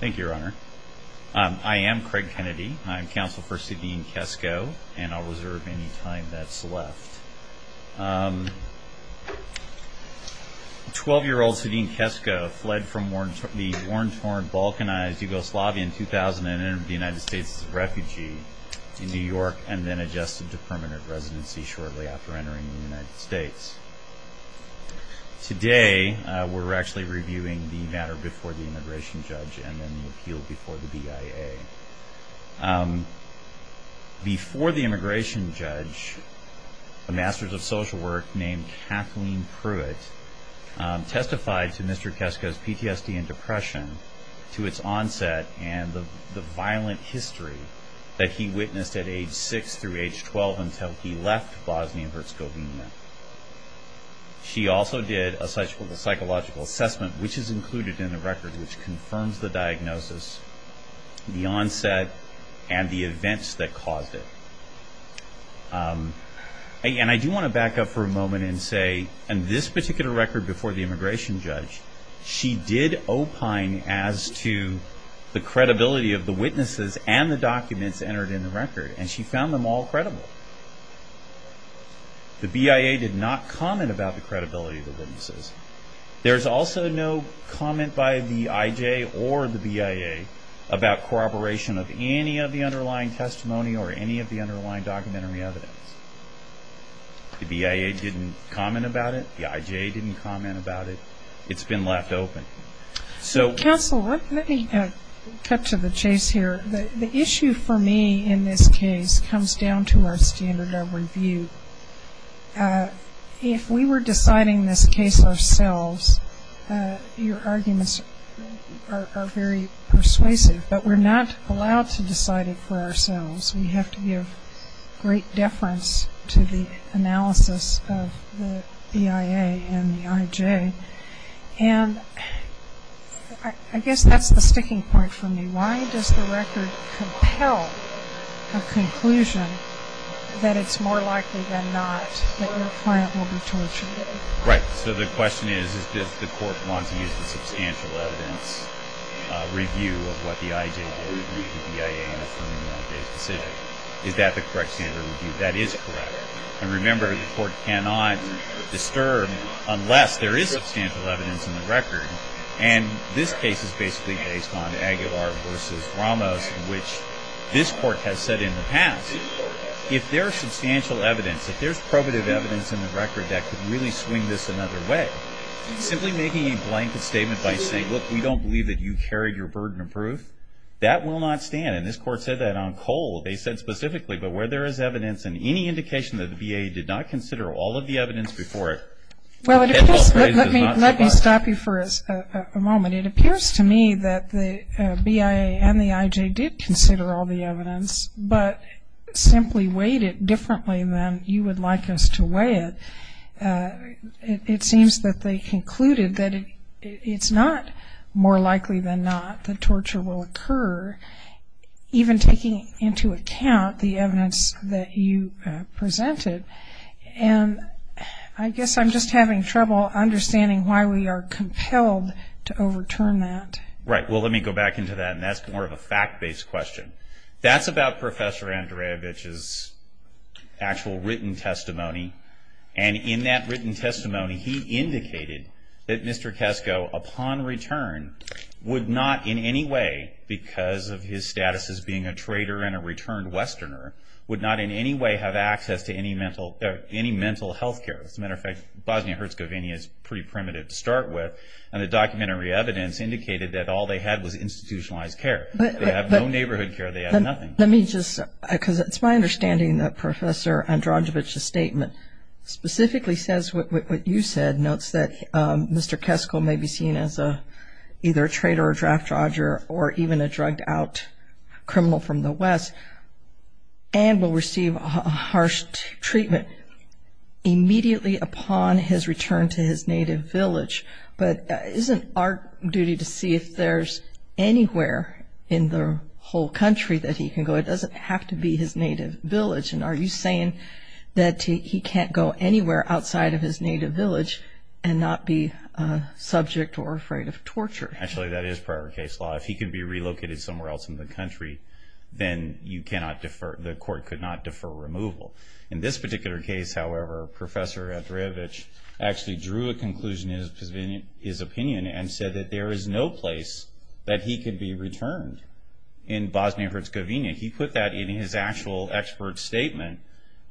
Thank you, Your Honor. I am Craig Kennedy. I'm counsel for Sadine Kesko and I'll reserve any time that's left. Twelve-year-old Sadine Kesko fled from the war-torn, balkanized Yugoslavia in 2000 and entered the United States as a refugee in New York and then adjusted to permanent residency shortly after entering the United States. Today, we're actually reviewing the matter before the immigration judge and then the appeal before the BIA. Before the immigration judge, a master of social work named Kathleen Pruitt testified to Mr. Kesko's PTSD and depression, to its onset and the violent history that he witnessed at age 6 through age 12 until he left Bosnia-Herzegovina. She also did a psychological assessment, which is included in the record, which confirms the diagnosis, the onset, and the events that caused it. And I do want to back up for a moment and say, in this particular record before the immigration judge, she did opine as to the credibility of the witnesses and the documents entered in the record, and she found them all credible. The BIA did not comment about the credibility of the witnesses. There's also no comment by the IJ or the BIA about corroboration of any of the underlying testimony or any of the underlying documentary evidence. The BIA didn't comment about it. The IJ didn't comment about it. It's been left open. Counsel, let me cut to the chase here. The issue for me in this case comes down to our standard of review. If we were deciding this case ourselves, your arguments are very persuasive, but we're not allowed to decide it for ourselves. We have to give great deference to the analysis of the BIA and the IJ. And I guess that's the sticking point for me. Why does the record compel a conclusion that it's more likely than not that your client will be tortured? Right. So the question is, does the court want to use the substantial evidence review of what the IJ did, or the BIA in its own decision? Is that the correct standard of review? That is correct. And remember, the court cannot disturb unless there is substantial evidence in the record. And this case is basically based on Aguilar v. Ramos, which this court has said in the past. If there's substantial evidence, if there's probative evidence in the record that could really swing this another way, simply making a blanket statement by saying, look, we don't believe that you carried your burden of proof, that will not stand. And this court said that on Cole. They said specifically, but where there is evidence and any indication that the BIA did not consider all of the evidence before it. Well, let me stop you for a moment. It appears to me that the BIA and the IJ did consider all the evidence, but simply weighed it differently than you would like us to weigh it. It seems that they concluded that it's not more likely than not that torture will occur, even taking into account the evidence that you presented. And I guess I'm just having trouble understanding why we are compelled to overturn that. Right. Well, let me go back into that, and that's more of a fact-based question. That's about Professor Andreevich's actual written testimony, and in that written testimony, he indicated that Mr. Kesko, upon return, would not in any way, because of his status as being a trader and a returned westerner, would not in any way have access to any mental health care. As a matter of fact, Bosnia-Herzegovina is pretty primitive to start with, and the documentary evidence indicated that all they had was institutionalized care. They have no neighborhood care. They have nothing. Let me just, because it's my understanding that Professor Andreevich's statement specifically says what you said, notes that Mr. Kesko may be seen as either a trader or a draft dodger or even a drugged-out criminal from the West and will receive a harsh treatment immediately upon his return to his native village. But isn't our duty to see if there's anywhere in the whole country that he can go? It doesn't have to be his native village. And are you saying that he can't go anywhere outside of his native village and not be a subject or afraid of torture? Actually, that is prior case law. If he can be relocated somewhere else in the country, then you cannot defer, the court could not defer removal. In this particular case, however, Professor Andreevich actually drew a conclusion in his opinion and said that there is no place that he could be returned in Bosnia-Herzegovina. He put that in his actual expert statement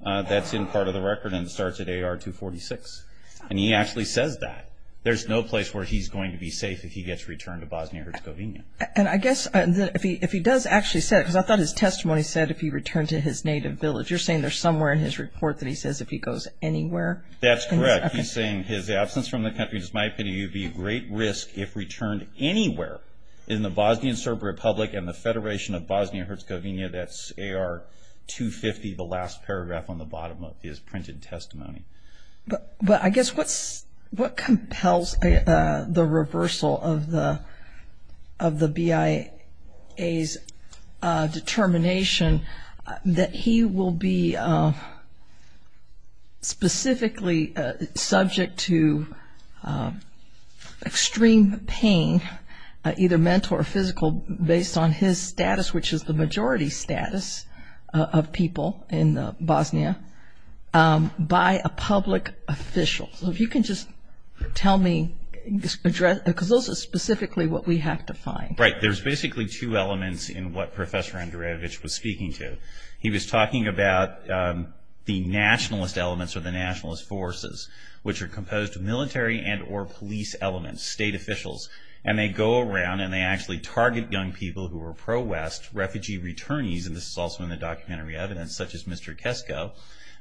that's in part of the record and starts at AR 246. And he actually says that. There's no place where he's going to be safe if he gets returned to Bosnia-Herzegovina. And I guess if he does actually say that, because I thought his testimony said if he returned to his native village. You're saying there's somewhere in his report that he says if he goes anywhere? That's correct. He's saying his absence from the country, in my opinion, would be a great risk if returned anywhere in the Bosnian Serb Republic and the Federation of Bosnia-Herzegovina. That's AR 250, the last paragraph on the bottom of his printed testimony. But I guess what compels the reversal of the BIA's determination that he will be specifically subject to extreme pain, either mental or physical, based on his status, which is the majority status of people in Bosnia, by a public official. So if you can just tell me, because those are specifically what we have to find. Right, there's basically two elements in what Professor Andrejevic was speaking to. He was talking about the nationalist elements or the nationalist forces, which are composed of military and or police elements, state officials. And they go around and they actually target young people who are pro-West, refugee returnees, and this is also in the documentary evidence, such as Mr. Kesko.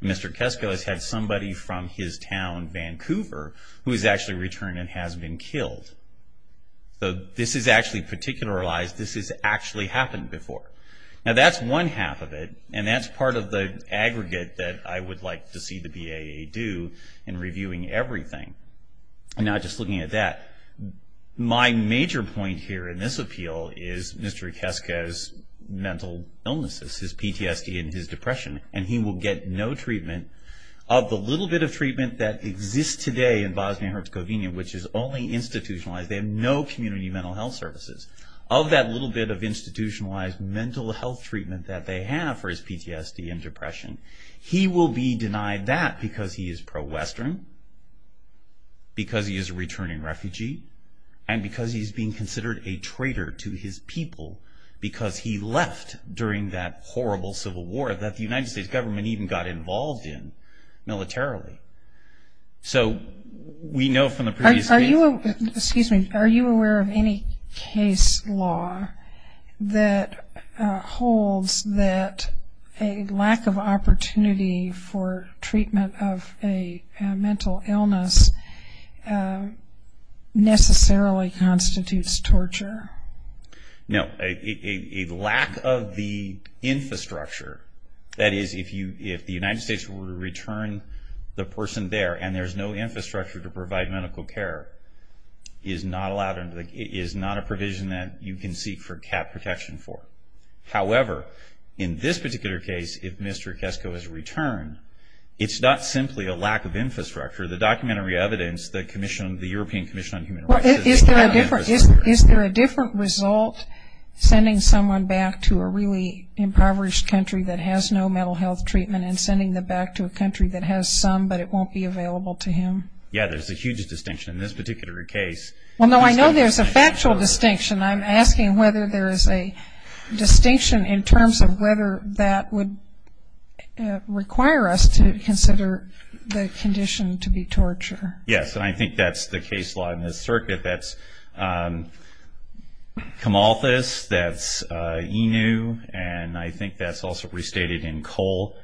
Mr. Kesko has had somebody from his town, Vancouver, who has actually returned and has been killed. So this is actually particularized, this has actually happened before. Now that's one half of it, and that's part of the aggregate that I would like to see the BIA do in reviewing everything. Now just looking at that, my major point here in this appeal is Mr. Kesko's mental illnesses, his PTSD and his depression, and he will get no treatment of the little bit of treatment that exists today in Bosnia and Herzegovina, which is only institutionalized. They have no community mental health services. Of that little bit of institutionalized mental health treatment that they have for his PTSD and depression, he will be denied that because he is pro-Western, because he is a returning refugee, and because he is being considered a traitor to his people because he left during that horrible civil war that the United States government even got involved in militarily. So we know from the previous case... Are you aware of any case law that holds that a lack of opportunity for treatment of a mental illness necessarily constitutes torture? No. A lack of the infrastructure, that is, if the United States were to return the person there and there's no infrastructure to provide medical care, is not a provision that you can seek for CAP protection for. However, in this particular case, if Mr. Kesko is returned, it's not simply a lack of infrastructure. The documentary evidence, the European Commission on Human Rights... Well, is there a different result sending someone back to a really impoverished country that has no mental health treatment and sending them back to a country that has some, but it won't be available to him? Yeah, there's a huge distinction in this particular case. Well, no, I know there's a factual distinction. I'm asking whether there is a distinction in terms of whether that would require us to consider the condition to be torture. Yes, and I think that's the case law in this circuit. That's Camalthus, that's Inu, and I think that's also restated in Cole.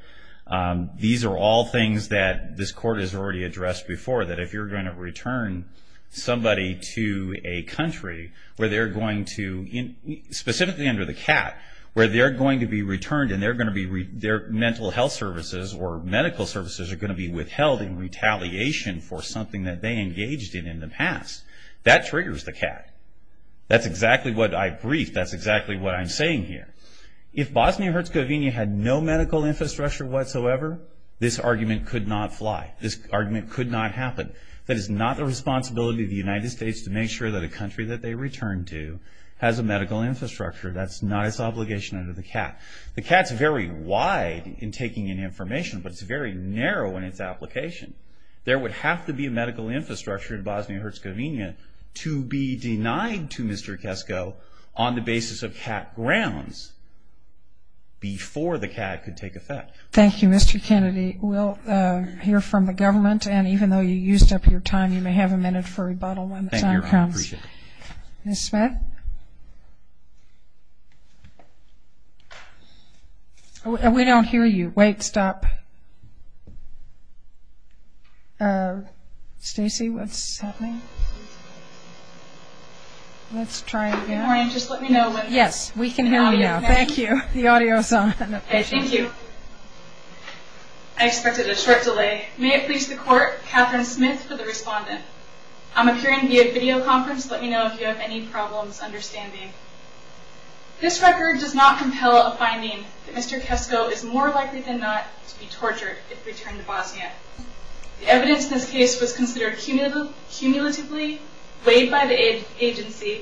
These are all things that this Court has already addressed before, that if you're going to return somebody to a country where they're going to, specifically under the CAT, where they're going to be returned and their mental health services or medical services are going to be withheld in retaliation for something that they engaged in in the past, that triggers the CAT. That's exactly what I briefed. That's exactly what I'm saying here. If Bosnia-Herzegovina had no medical infrastructure whatsoever, this argument could not fly. This argument could not happen. That is not the responsibility of the United States to make sure that a country that they return to has a medical infrastructure. That's not its obligation under the CAT. The CAT's very wide in taking in information, but it's very narrow in its application. There would have to be a medical infrastructure in Bosnia-Herzegovina to be denied to Mr. Kesko on the basis of CAT grounds before the CAT could take effect. Thank you, Mr. Kennedy. We'll hear from the government, and even though you used up your time, you may have a minute for rebuttal when the time comes. Thank you. I appreciate it. Ms. Smith? We don't hear you. Wait, stop. Stacy, what's happening? Let's try again. Good morning. Just let me know when the audio is on. Yes, we can hear you now. Thank you. The audio is on. Thank you. I expected a short delay. May it please the Court, Catherine Smith for the respondent. I'm appearing via video conference. Let me know if you have any problems understanding. This record does not compel a finding that Mr. Kesko is more likely than not to be tortured if returned to Bosnia. The evidence in this case was considered cumulatively weighed by the agency,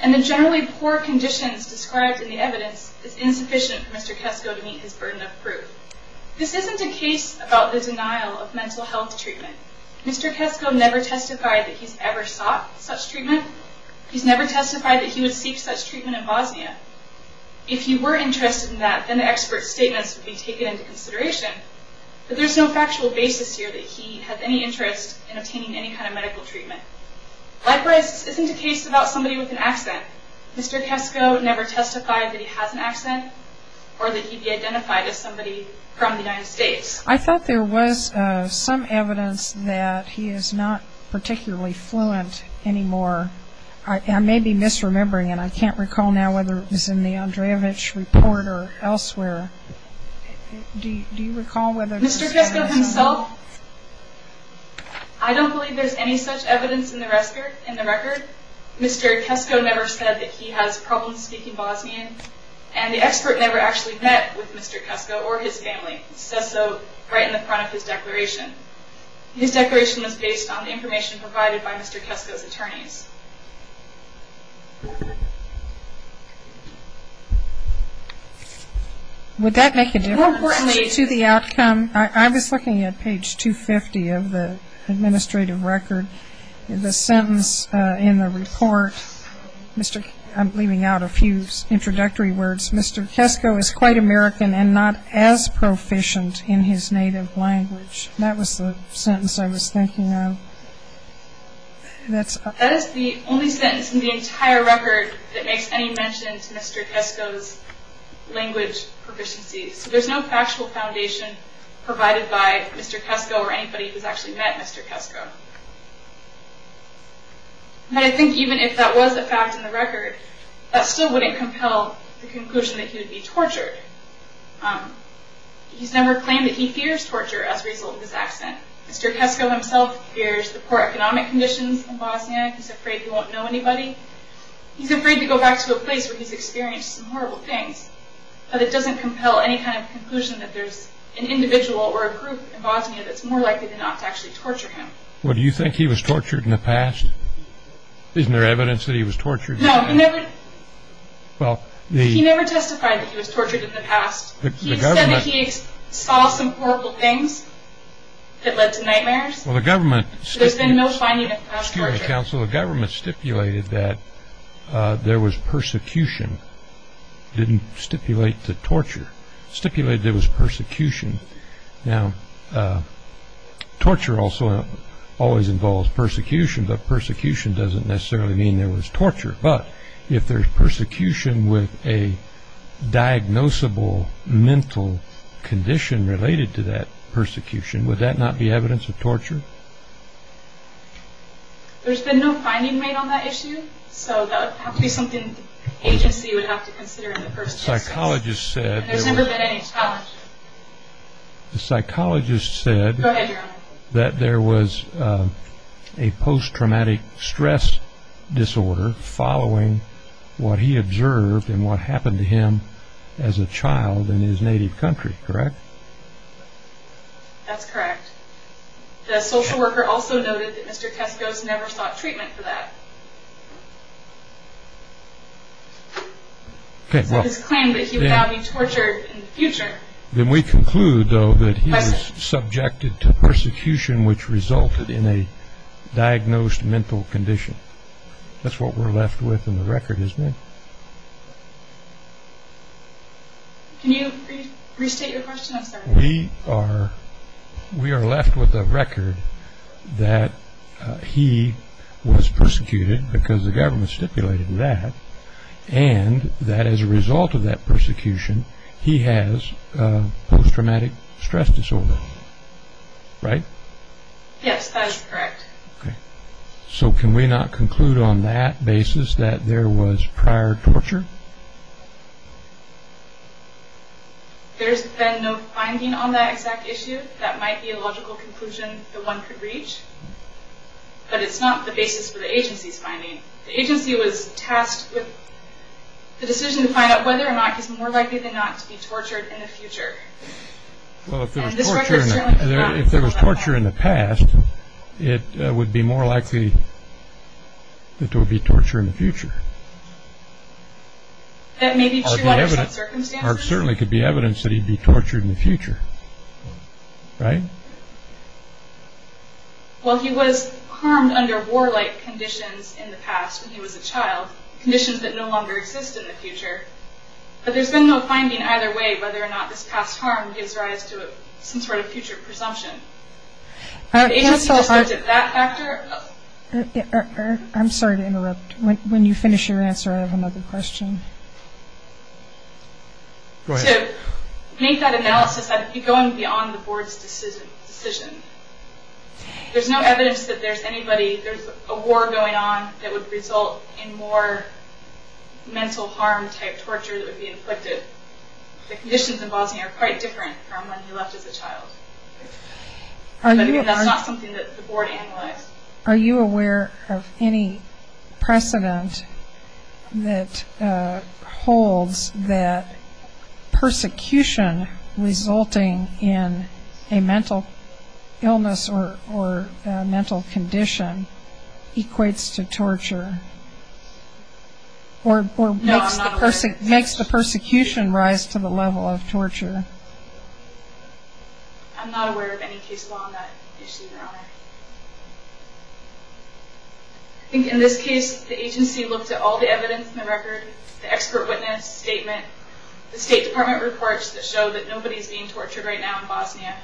and the generally poor conditions described in the evidence is insufficient for Mr. Kesko to meet his burden of proof. This isn't a case about the denial of mental health treatment. Mr. Kesko never testified that he's ever sought such treatment. He's never testified that he would seek such treatment in Bosnia. If he were interested in that, then the expert's statements would be taken into consideration, but there's no factual basis here that he had any interest in obtaining any kind of medical treatment. Likewise, this isn't a case about somebody with an accent. Mr. Kesko never testified that he has an accent or that he'd be identified as somebody from the United States. I thought there was some evidence that he is not particularly fluent anymore. I may be misremembering, and I can't recall now whether it was in the Andreevich report or elsewhere. Do you recall whether it was in the Andreevich report? Mr. Kesko himself? I don't believe there's any such evidence in the record. Mr. Kesko never said that he has problems speaking Bosnian, and the expert never actually met with Mr. Kesko or his family. It says so right in the front of his declaration. His declaration was based on the information provided by Mr. Kesko's attorneys. Would that make a difference to the outcome? I was looking at page 250 of the administrative record. The sentence in the report, I'm leaving out a few introductory words. Mr. Kesko is quite American and not as proficient in his native language. That was the sentence I was thinking of. That is the only sentence in the entire record that makes any mention to Mr. Kesko's language proficiency. So there's no factual foundation provided by Mr. Kesko or anybody who's actually met Mr. Kesko. And I think even if that was a fact in the record, that still wouldn't compel the conclusion that he would be tortured. He's never claimed that he fears torture as a result of his accent. Mr. Kesko himself fears the poor economic conditions in Bosnia. He's afraid he won't know anybody. He's afraid to go back to a place where he's experienced some horrible things. But it doesn't compel any kind of conclusion that there's an individual or a group in Bosnia that's more likely than not to actually torture him. Well, do you think he was tortured in the past? Isn't there evidence that he was tortured in the past? No, he never testified that he was tortured in the past. He said that he saw some horrible things that led to nightmares. There's been no finding of past torture. Counsel, the government stipulated that there was persecution. It didn't stipulate the torture. It stipulated there was persecution. Now, torture also always involves persecution, but persecution doesn't necessarily mean there was torture. But if there's persecution with a diagnosable mental condition related to that persecution, would that not be evidence of torture? There's been no finding made on that issue, so that would have to be something the agency would have to consider in the first place. The psychologist said there was a post-traumatic stress disorder following what he observed and what happened to him as a child in his native country, correct? That's correct. The social worker also noted that Mr. Keskos never sought treatment for that. Okay, well. He claimed that he would not be tortured in the future. Then we conclude, though, that he was subjected to persecution, which resulted in a diagnosed mental condition. That's what we're left with in the record, isn't it? Can you restate your question, I'm sorry? We are left with a record that he was persecuted because the government stipulated that, and that as a result of that persecution, he has post-traumatic stress disorder, right? Yes, that is correct. So can we not conclude on that basis that there was prior torture? There's been no finding on that exact issue. That might be a logical conclusion that one could reach, but it's not the basis for the agency's finding. The agency was tasked with the decision to find out whether or not he's more likely than not to be tortured in the future. Well, if there was torture in the past, it would be more likely that there would be torture in the future. That may be true under some circumstances. There certainly could be evidence that he'd be tortured in the future, right? Well, he was harmed under warlike conditions in the past when he was a child, conditions that no longer exist in the future. But there's been no finding either way whether or not this past harm gives rise to some sort of future presumption. The agency just looked at that factor. I'm sorry to interrupt. When you finish your answer, I have another question. Go ahead. To make that analysis, I'd be going beyond the board's decision. There's no evidence that there's anybody, there's a war going on that would result in more mental harm-type torture that would be inflicted. The conditions in Bosnia are quite different from when he left as a child. That's not something that the board analyzed. Are you aware of any precedent that holds that persecution resulting in a mental illness or a mental condition equates to torture? Or makes the persecution rise to the level of torture? I'm not aware of any case law on that issue, Your Honor. I think in this case, the agency looked at all the evidence in the record, the expert witness statement, the State Department reports that show that nobody's being tortured right now in Bosnia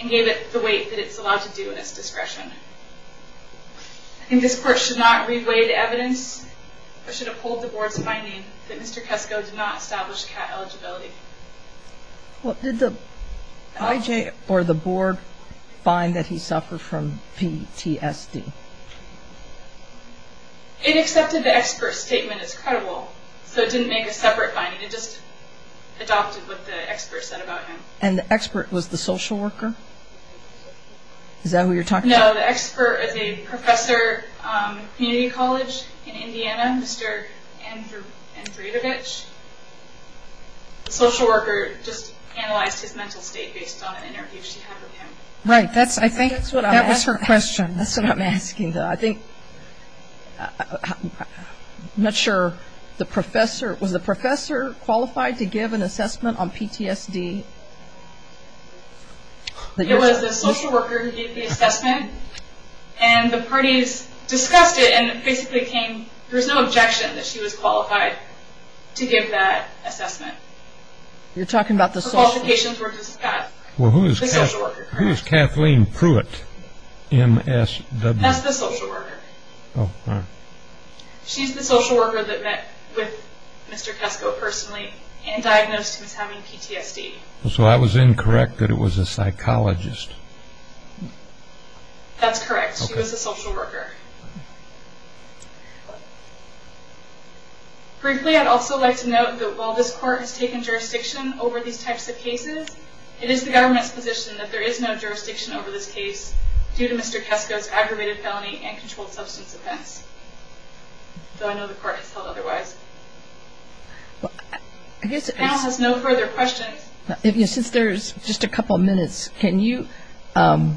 and gave it the weight that it's allowed to do at its discretion. I think this Court should not re-weigh the evidence or should uphold the board's finding that Mr. Kesko did not establish CAT eligibility. Did the IJ or the board find that he suffered from PTSD? It accepted the expert statement as credible, so it didn't make a separate finding. It just adopted what the expert said about him. And the expert was the social worker? Is that who you're talking to? No, the expert is a professor at a community college in Indiana, Mr. Andrejevic. The social worker just analyzed his mental state based on an interview she had with him. Right. That was her question. That's what I'm asking, though. I'm not sure. Was the professor qualified to give an assessment on PTSD? It was the social worker who gave the assessment, and the parties discussed it, and it basically came, there was no objection that she was qualified to give that assessment. You're talking about the social worker? Her qualifications were discussed. Well, who is Kathleen Pruitt MSW? That's the social worker. She's the social worker that met with Mr. Kesko personally and diagnosed him as having PTSD. So I was incorrect that it was a psychologist? That's correct. She was a social worker. Briefly, I'd also like to note that while this court has taken jurisdiction over these types of cases, it is the government's position that there is no jurisdiction over this case due to Mr. Kesko's aggravated felony and controlled substance offense, though I know the court has held otherwise. The panel has no further questions. Since there's just a couple minutes, can you, I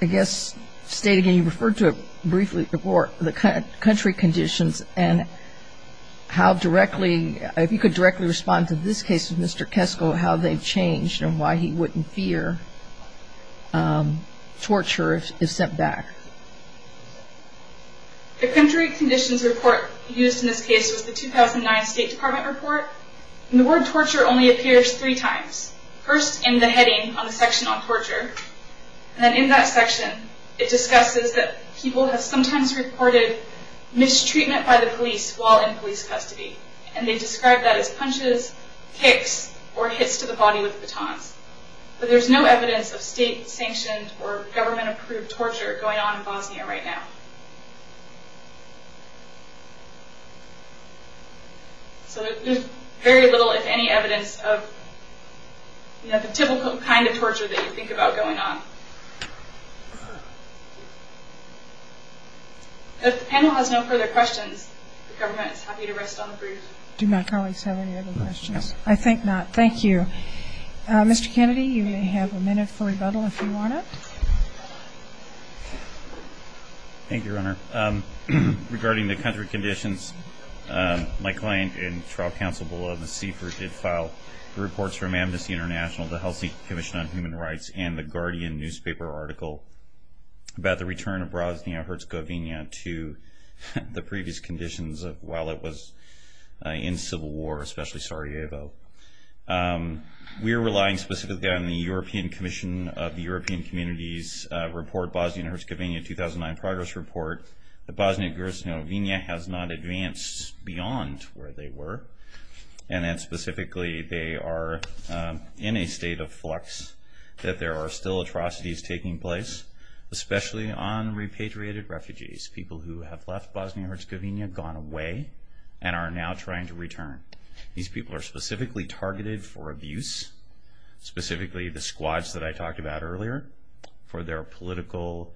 guess, state again, you referred to it briefly before, the country conditions and how directly, if you could directly respond to this case with Mr. Kesko, how they've changed and why he wouldn't fear torture if sent back? The country conditions report used in this case was the 2009 State Department report, and the word torture only appears three times, first in the heading on the section on torture, and then in that section it discusses that people have sometimes reported mistreatment by the police while in police custody, and they describe that as punches, kicks, or hits to the body with batons. But there's no evidence of state-sanctioned or government-approved torture going on in Bosnia right now. So there's very little, if any, evidence of the typical kind of torture that you think about going on. If the panel has no further questions, the government is happy to rest on the brief. Do my colleagues have any other questions? No. I think not. Thank you. Mr. Kennedy, you may have a minute for rebuttal if you want it. Thank you, Your Honor. Regarding the country conditions, my client and trial counsel below the CFER did file reports from Amnesty International, the Helsinki Commission on Human Rights, and the Guardian newspaper article about the return of Bosnia-Herzegovina to the previous conditions while it was in civil war, especially Sarajevo. We are relying specifically on the European Commission of the European Communities report, Bosnia-Herzegovina 2009 progress report, that Bosnia-Herzegovina has not advanced beyond where they were, and that specifically they are in a state of flux, that there are still atrocities taking place, especially on repatriated refugees, people who have left Bosnia-Herzegovina, gone away, and are now trying to return. These people are specifically targeted for abuse, specifically the squads that I talked about earlier, for their political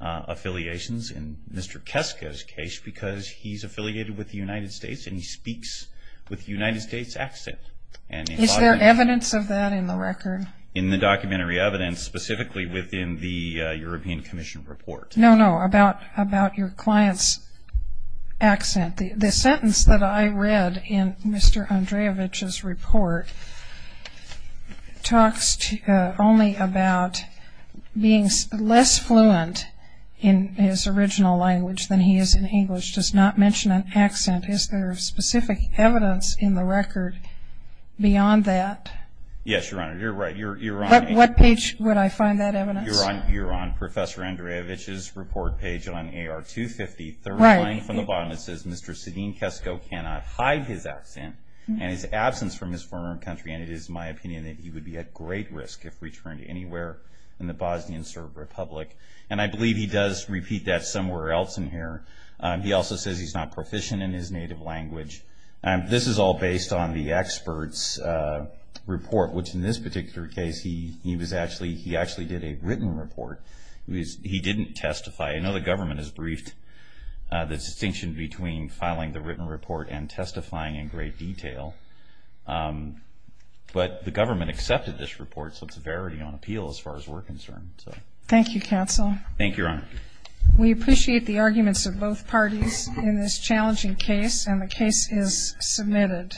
affiliations, in Mr. Keska's case, because he's affiliated with the United States and he speaks with a United States accent. Is there evidence of that in the record? In the documentary evidence, specifically within the European Commission report. No, no, about your client's accent. The sentence that I read in Mr. Andreevich's report talks only about being less fluent in his original language than he is in English, does not mention an accent. Is there specific evidence in the record beyond that? Yes, Your Honor, you're right. What page would I find that evidence? You're on Professor Andreevich's report page on AR-250. Right. The third line from the bottom, it says, Mr. Sadin Keska cannot hide his accent and his absence from his former country, and it is my opinion that he would be at great risk if returned anywhere in the Bosnian Serb Republic. And I believe he does repeat that somewhere else in here. He also says he's not proficient in his native language. This is all based on the expert's report, which in this particular case, he actually did a written report. He didn't testify. I know the government has briefed the distinction between filing the written report and testifying in great detail, but the government accepted this report, so it's a verity on appeal as far as we're concerned. Thank you, counsel. Thank you, Your Honor. We appreciate the arguments of both parties in this challenging case, and the case is submitted.